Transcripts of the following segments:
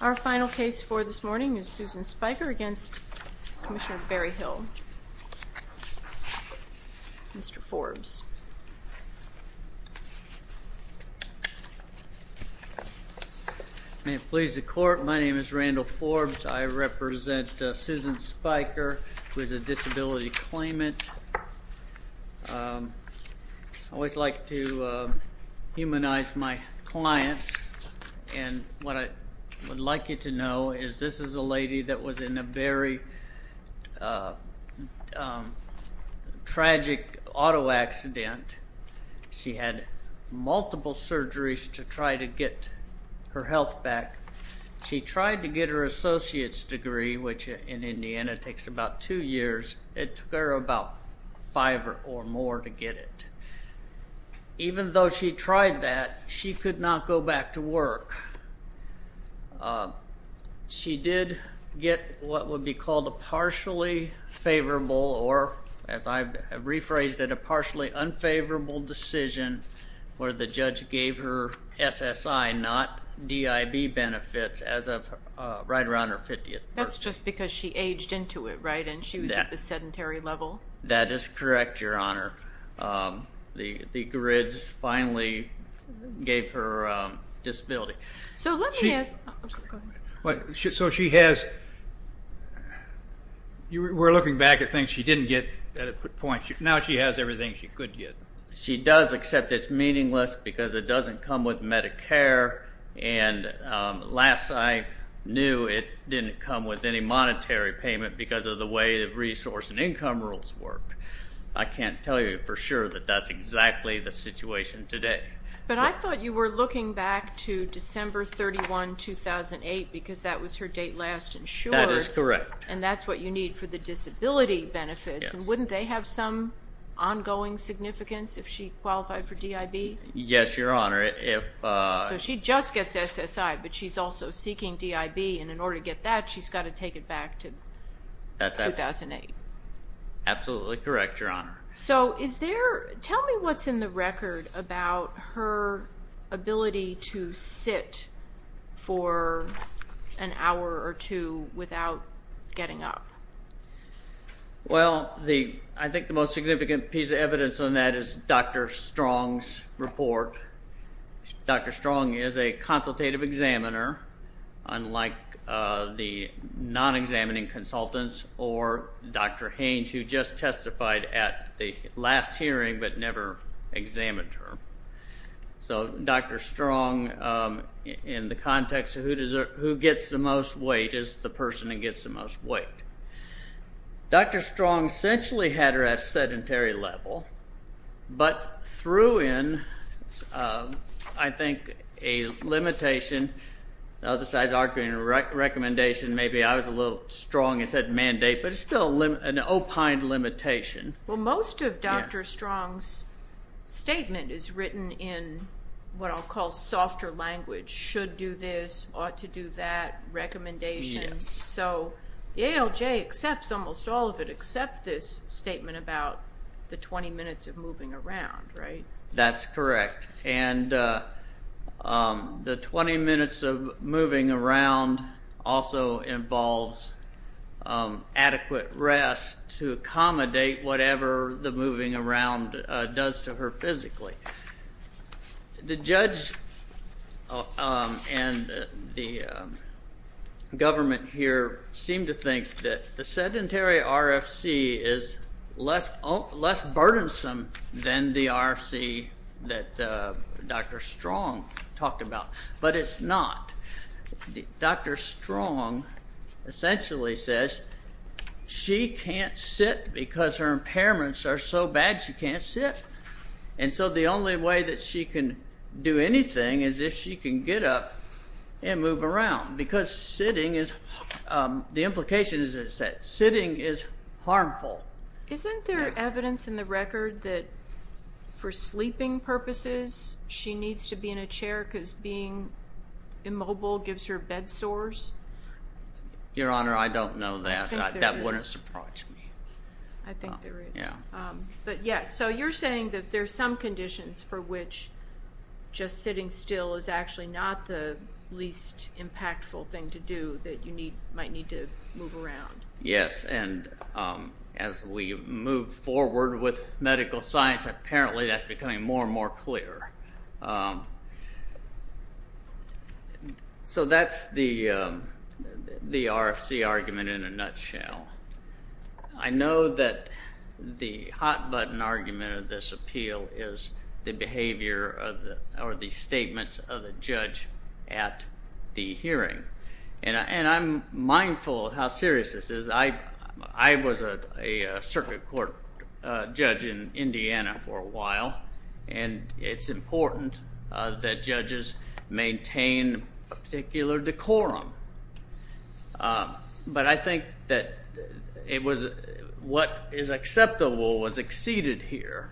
Our final case for this morning is Susan Spicher v. Commissioner Berryhill. Mr. Forbes. Randall Forbes May it please the court, my name is Randall Forbes. I represent Susan Spicher who is a disability claimant. I always like to humanize my clients and what I would like you to know is this is a lady that was in a very tragic auto accident. She had multiple surgeries to try to get her health back. She tried to get her associates degree which in Indiana takes about two years. It took her about five or more to get it. Even though she tried that, she could not go back to work. She did get what would be called a partially favorable or as I've rephrased it a partially unfavorable decision where the judge gave her SSI not DIB benefits right around her 50th birthday. That's just because she aged into it right and she was at the sedentary level? That is correct your honor. The grids finally gave her disability. So she has, we're looking back at things she didn't get, now she has everything she could get. She does except it's meaningless because it doesn't come with Medicare and last I knew it didn't come with any monetary payment because of the way the resource and income rules work. I can't tell you for sure that that's exactly the situation today. But I thought you were looking back to December 31, 2008 because that was her date last insured. That is correct. And that's what you need for the disability benefits and wouldn't they have some ongoing significance if she qualified for DIB? Yes your honor. So she just gets SSI but she's also seeking DIB and in order to get that she's got to take it back to 2008. Absolutely correct your honor. So is there, tell me what's in the record about her ability to sit for an hour or two without getting up. Well I think the most significant piece of evidence on that is Dr. Strong's report. Dr. Strong is a consultative examiner unlike the non-examining consultants or Dr. Haines who just testified at the last hearing but never examined her. So Dr. Strong in the context of who gets the most weight is the person who gets the most weight. Dr. Strong essentially had her at a sedentary level but threw in I think a limitation, the other side is arguing a recommendation maybe I was a little strong and said mandate but it's still an opined limitation. Well most of Dr. Strong's statement is written in what I'll call softer language, should do this, ought to do that, recommendations. So the ALJ accepts almost all of it except this statement about the 20 minutes of moving around right? That's correct. And the 20 minutes of moving around also involves adequate rest to accommodate whatever the moving around does to her physically. The judge and the government here seem to think that the sedentary RFC is less burdensome than the RFC that Dr. Strong talked about but it's not. Dr. Strong essentially says she can't sit because her impairments are so bad she can't sit. And so the only way that she can do anything is if she can get up and move around because sitting is, the implication is that sitting is harmful. Isn't there evidence in the record that for sleeping purposes she needs to be in a chair because being immobile gives her bed sores? Your Honor I don't know that, that wouldn't surprise me. So you're saying that there are some conditions for which just sitting still is actually not the least impactful thing to do that you might need to move around. Yes and as we move forward with medical science apparently that's becoming more and more clear. So that's the RFC argument in a nutshell. I know that the hot button argument of this appeal is the behavior or the statements of the judge at the hearing. And I'm mindful of how serious this is. I was a circuit court judge in Indiana for a while and it's important that judges maintain a particular decorum. But I think that what is acceptable was exceeded here.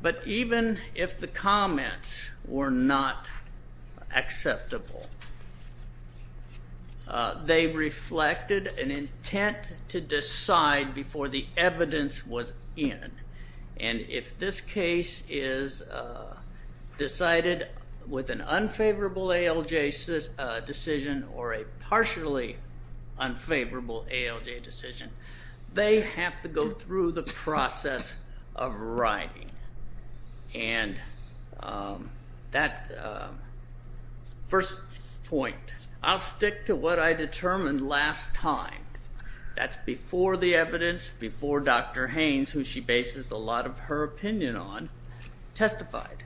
But even if the comments were not acceptable they reflected an intent to decide before the evidence was in. And if this case is decided with an unfavorable ALJ decision or a partially unfavorable ALJ decision they have to go through the process of writing. And that first point, I'll stick to what I determined last time. That's before the evidence, before Dr. Haynes, who she bases a lot of her opinion on, testified.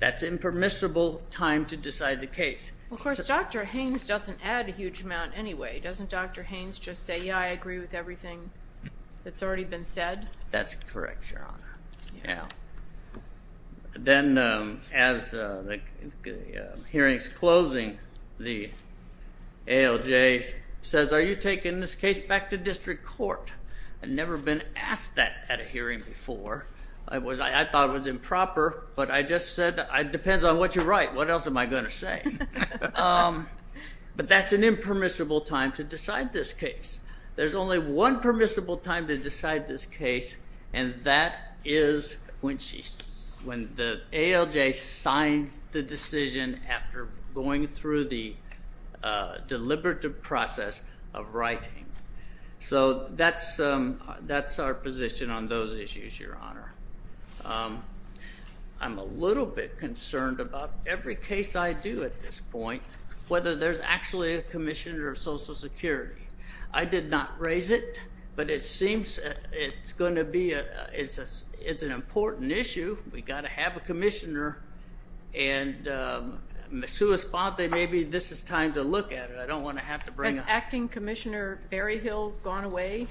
That's impermissible time to decide the case. Of course, Dr. Haynes doesn't add a huge amount anyway. Doesn't Dr. Haynes just say, yeah, I agree with everything that's already been said? That's correct, Your Honor. Yeah. Then as the hearing's closing, the ALJ says, are you taking this case back to district court? I've never been asked that at a hearing before. I thought it was improper, but I just said it depends on what you write. What else am I going to say? But that's an impermissible time to decide this case. There's only one permissible time to decide this case, and that is when the ALJ signs the decision after going through the deliberative process of writing. So that's our position on those issues, Your Honor. I'm a little bit concerned about every case I do at this point, whether there's actually a commissioner of Social Security. I did not raise it, but it seems it's going to be an important issue. We've got to have a commissioner. And maybe this is time to look at it. I don't want to have to bring it up. Has Acting Commissioner Berryhill gone away?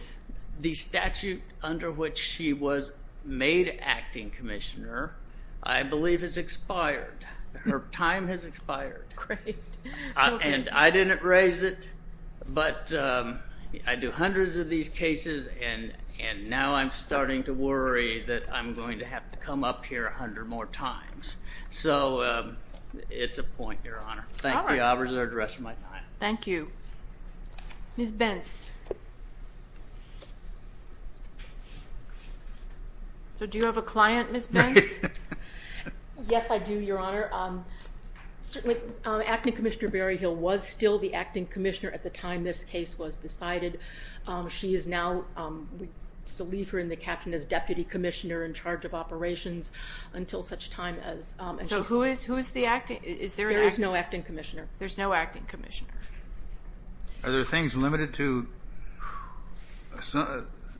The statute under which she was made Acting Commissioner, I believe, has expired. Her time has expired. Great. And I didn't raise it, but I do hundreds of these cases, and now I'm starting to worry that I'm going to have to come up here a hundred more times. So it's a point, Your Honor. Thank you. I'll reserve the rest of my time. Thank you. Ms. Bence. So do you have a client, Ms. Bence? Yes, I do, Your Honor. Certainly, Acting Commissioner Berryhill was still the Acting Commissioner at the time this case was decided. She is now, we still leave her in the caption as Deputy Commissioner in charge of operations until such time as. So who is the Acting Commissioner? There is no Acting Commissioner. There's no Acting Commissioner. Are there things limited to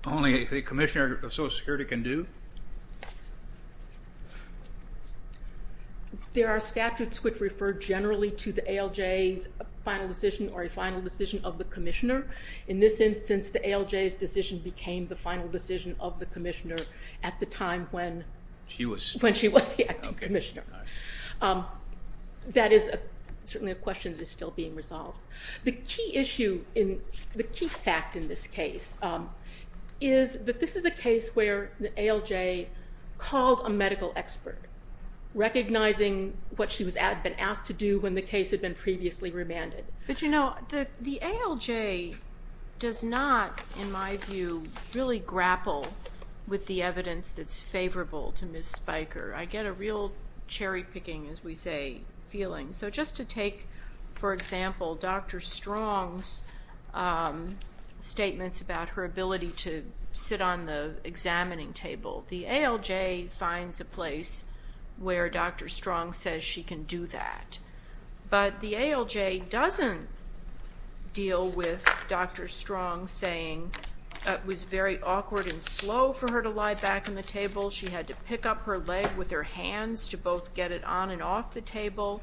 only a commissioner of Social Security can do? There are statutes which refer generally to the ALJ's final decision or a final decision of the commissioner. In this instance, the ALJ's decision became the final decision of the commissioner at the time when she was the Acting Commissioner. That is certainly a question that is still being resolved. The key issue, the key fact in this case is that this is a case where the ALJ called a medical expert, recognizing what she had been asked to do when the case had been previously remanded. But, you know, the ALJ does not, in my view, really grapple with the evidence that's favorable to Ms. Spiker. I get a real cherry-picking, as we say, feeling. So just to take, for example, Dr. Strong's statements about her ability to sit on the examining table, the ALJ finds a place where Dr. Strong says she can do that. But the ALJ doesn't deal with Dr. Strong saying it was very awkward and slow for her to lie back on the table. She had to pick up her leg with her hands to both get it on and off the table.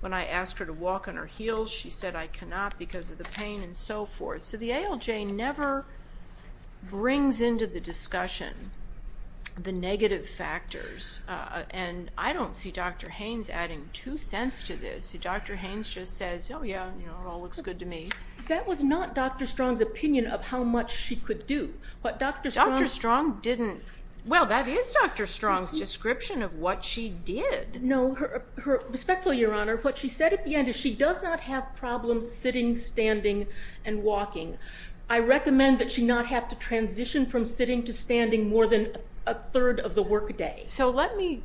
When I asked her to walk on her heels, she said, I cannot because of the pain and so forth. So the ALJ never brings into the discussion the negative factors. And I don't see Dr. Haynes adding two cents to this. Dr. Haynes just says, oh, yeah, you know, it all looks good to me. That was not Dr. Strong's opinion of how much she could do. But Dr. Strong didn't. Well, that is Dr. Strong's description of what she did. No. Respectfully, Your Honor, what she said at the end is she does not have problems sitting, standing, and walking. I recommend that she not have to transition from sitting to standing more than a third of the workday. So let me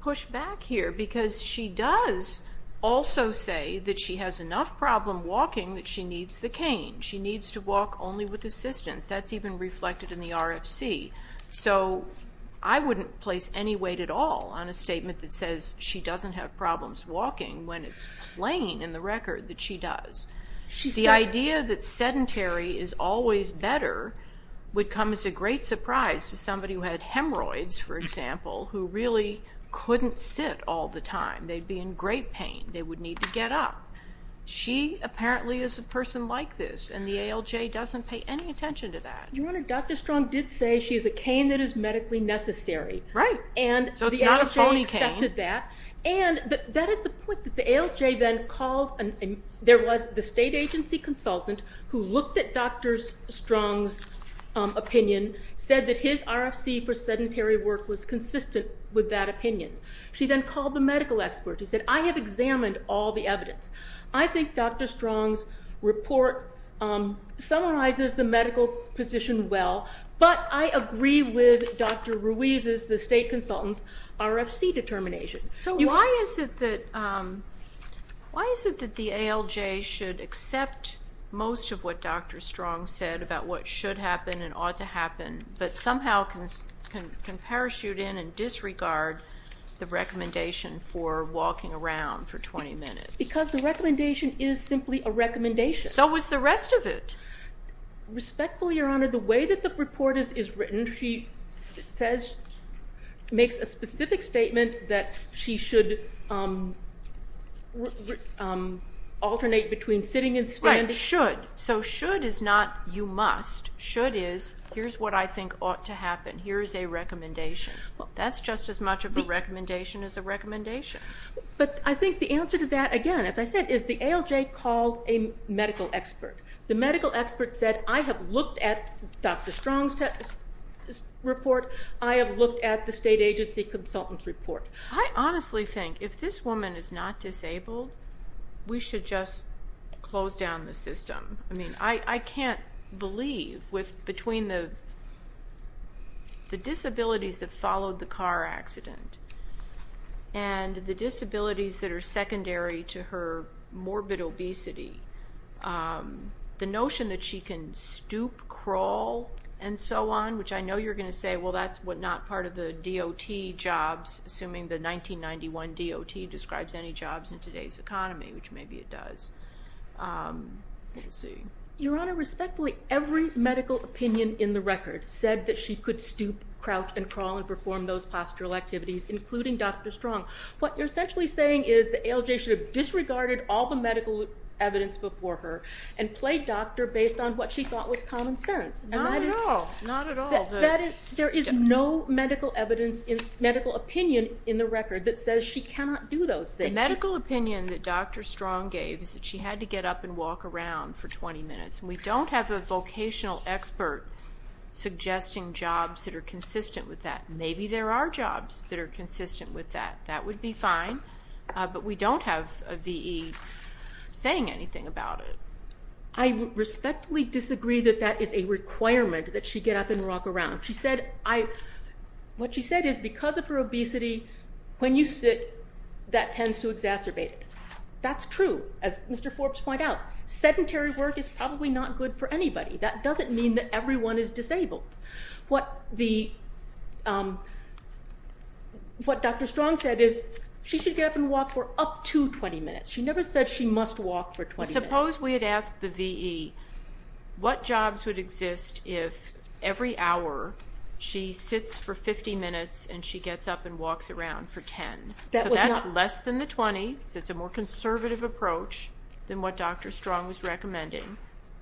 push back here because she does also say that she has enough problem walking that she needs the cane. She needs to walk only with assistance. That's even reflected in the RFC. So I wouldn't place any weight at all on a statement that says she doesn't have problems walking when it's plain in the record that she does. The idea that sedentary is always better would come as a great surprise to somebody who had hemorrhoids, for example, who really couldn't sit all the time. They'd be in great pain. They would need to get up. She apparently is a person like this, and the ALJ doesn't pay any attention to that. Your Honor, Dr. Strong did say she is a cane that is medically necessary. Right. So it's not a phony cane. And the ALJ accepted that. And that is the point that the ALJ then called. There was the state agency consultant who looked at Dr. Strong's opinion, said that his RFC for sedentary work was consistent with that opinion. She then called the medical expert who said, I have examined all the evidence. I think Dr. Strong's report summarizes the medical position well, but I agree with Dr. Ruiz's, the state consultant's, RFC determination. So why is it that the ALJ should accept most of what Dr. Strong said about what should happen and ought to happen, but somehow can parachute in and disregard the recommendation for walking around for 20 minutes? Because the recommendation is simply a recommendation. So is the rest of it. Respectfully, Your Honor, the way that the report is written, she makes a specific statement that she should alternate between sitting and standing. Right, should. So should is not you must. Should is here's what I think ought to happen. Here is a recommendation. That's just as much of a recommendation as a recommendation. But I think the answer to that, again, as I said, is the ALJ called a medical expert. The medical expert said, I have looked at Dr. Strong's report. I have looked at the state agency consultant's report. I honestly think if this woman is not disabled, we should just close down the system. I mean, I can't believe between the disabilities that followed the car accident and the disabilities that are secondary to her morbid obesity, the notion that she can stoop, crawl, and so on, which I know you're going to say, well, that's not part of the DOT jobs, assuming the 1991 DOT describes any jobs in today's economy, which maybe it does. Let's see. Your Honor, respectfully, every medical opinion in the record said that she could stoop, crouch, and crawl and perform those postural activities, including Dr. Strong. What you're essentially saying is the ALJ should have disregarded all the medical evidence before her and played doctor based on what she thought was common sense. No, no, not at all. There is no medical evidence, medical opinion in the record that says she cannot do those things. The medical opinion that Dr. Strong gave is that she had to get up and walk around for 20 minutes, and we don't have a vocational expert suggesting jobs that are consistent with that. Maybe there are jobs that are consistent with that. That would be fine, but we don't have a V.E. saying anything about it. I respectfully disagree that that is a requirement, that she get up and walk around. What she said is because of her obesity, when you sit, that tends to exacerbate it. That's true. As Mr. Forbes pointed out, sedentary work is probably not good for anybody. That doesn't mean that everyone is disabled. What Dr. Strong said is she should get up and walk for up to 20 minutes. She never said she must walk for 20 minutes. Suppose we had asked the V.E. what jobs would exist if every hour she sits for 50 minutes and she gets up and walks around for 10. So that's less than the 20, so it's a more conservative approach than what Dr. Strong was recommending.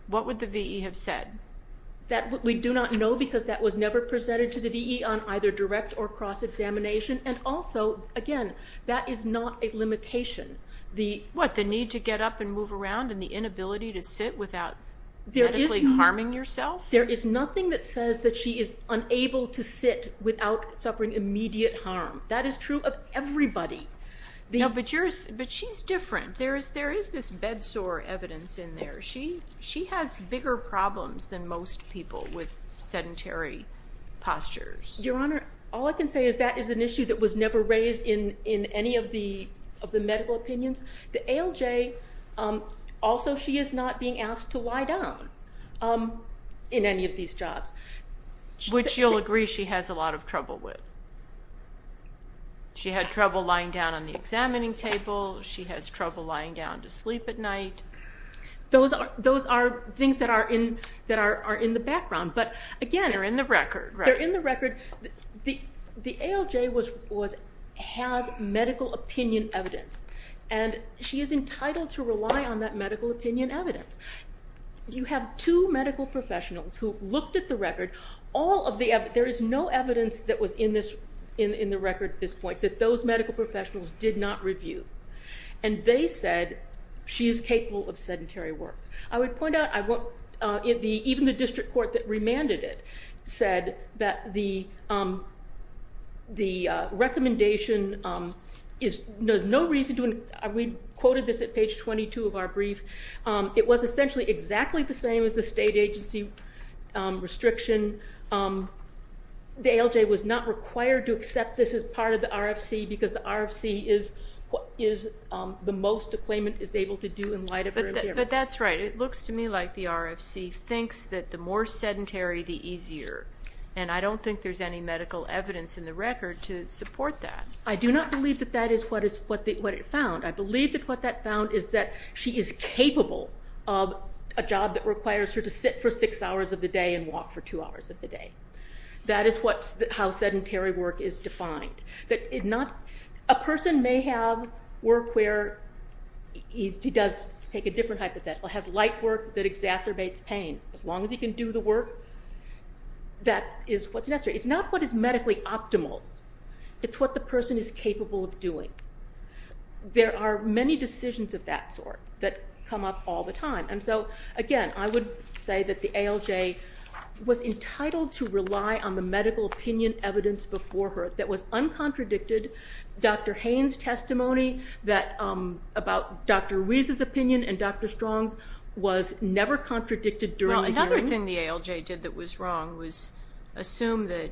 What would the V.E. have said? We do not know because that was never presented to the V.E. on either direct or cross-examination, and also, again, that is not a limitation. What, the need to get up and move around and the inability to sit without medically harming yourself? There is nothing that says that she is unable to sit without suffering immediate harm. That is true of everybody. No, but she's different. There is this bedsore evidence in there. She has bigger problems than most people with sedentary postures. Your Honor, all I can say is that is an issue that was never raised in any of the medical opinions. The ALJ, also she is not being asked to lie down in any of these jobs. Which you'll agree she has a lot of trouble with. She had trouble lying down on the examining table. She has trouble lying down to sleep at night. Those are things that are in the background, but again, they're in the record. The ALJ has medical opinion evidence, and she is entitled to rely on that medical opinion evidence. You have two medical professionals who have looked at the record. There is no evidence that was in the record at this point that those medical professionals did not review, and they said she is capable of sedentary work. I would point out, even the district court that remanded it said that the recommendation is, there's no reason to, we quoted this at page 22 of our brief, it was essentially exactly the same as the state agency restriction. The ALJ was not required to accept this as part of the RFC, because the RFC is the most a claimant is able to do in light of her impairment. But that's right. It looks to me like the RFC thinks that the more sedentary the easier, and I don't think there's any medical evidence in the record to support that. I do not believe that that is what it found. I believe that what that found is that she is capable of a job that requires her to sit for six hours of the day and walk for two hours of the day. That is how sedentary work is defined. A person may have work where he does take a different hypothetical, has light work that exacerbates pain. As long as he can do the work, that is what's necessary. It's not what is medically optimal. It's what the person is capable of doing. There are many decisions of that sort that come up all the time. And so, again, I would say that the ALJ was entitled to rely on the medical opinion evidence before her that was uncontradicted. Dr. Haynes' testimony about Dr. Ruiz's opinion and Dr. Strong's was never contradicted during the hearing. Well, another thing the ALJ did that was wrong was assume that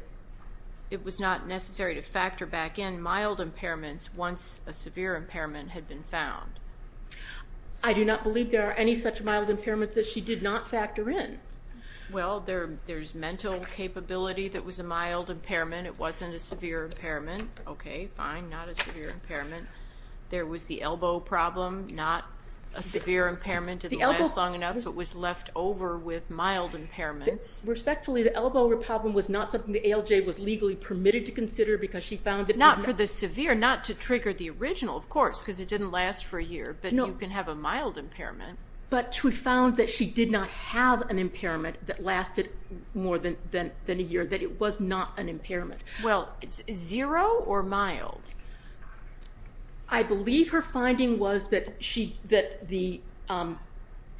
it was not necessary to factor back in mild impairments once a severe impairment had been found. I do not believe there are any such mild impairments that she did not factor in. Well, there's mental capability that was a mild impairment. It wasn't a severe impairment. Okay, fine, not a severe impairment. There was the elbow problem, not a severe impairment. It didn't last long enough, but was left over with mild impairments. Respectfully, the elbow problem was not something the ALJ was legally permitted to consider because she found that it did not Not for the severe, not to trigger the original, of course, because it didn't last for a year. But you can have a mild impairment. But she found that she did not have an impairment that lasted more than a year, that it was not an impairment. Well, zero or mild? I believe her finding was that she, that the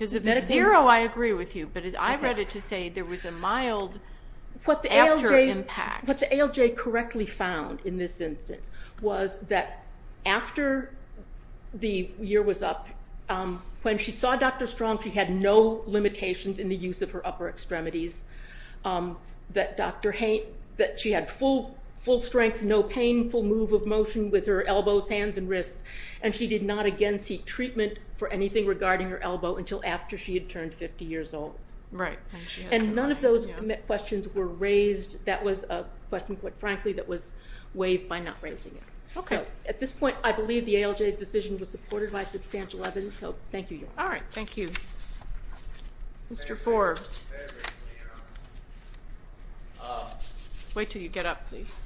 Zero, I agree with you, but I read it to say there was a mild after impact. What the ALJ correctly found in this instance was that after the year was up, when she saw Dr. Strong, she had no limitations in the use of her upper extremities. That she had full strength, no painful move of motion with her elbows, hands, and wrists, and she did not again seek treatment for anything regarding her elbow until after she had turned 50 years old. Right. And none of those questions were raised, that was a question, quite frankly, that was waived by not raising it. Okay. At this point, I believe the ALJ's decision was supported by substantial evidence, so thank you. All right, thank you. Wait until you get up, please.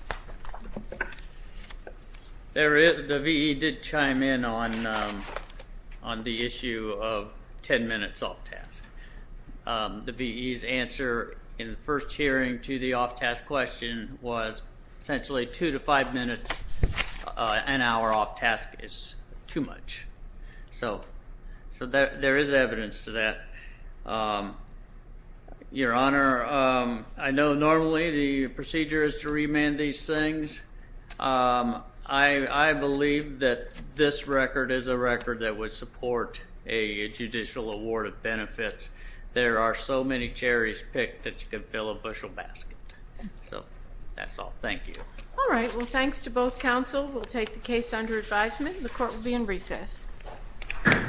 The V.E. did chime in on the issue of 10 minutes off task. The V.E.'s answer in the first hearing to the off task question was essentially two to five minutes an hour off task is too much. So there is evidence to that. Your Honor, I know normally the procedure is to remand these things. I believe that this record is a record that would support a judicial award of benefits. There are so many cherries picked that you can fill a bushel basket. So that's all. Thank you. All right. Well, thanks to both counsel. We'll take the case under advisement. The court will be in recess. Thank you. Thank you.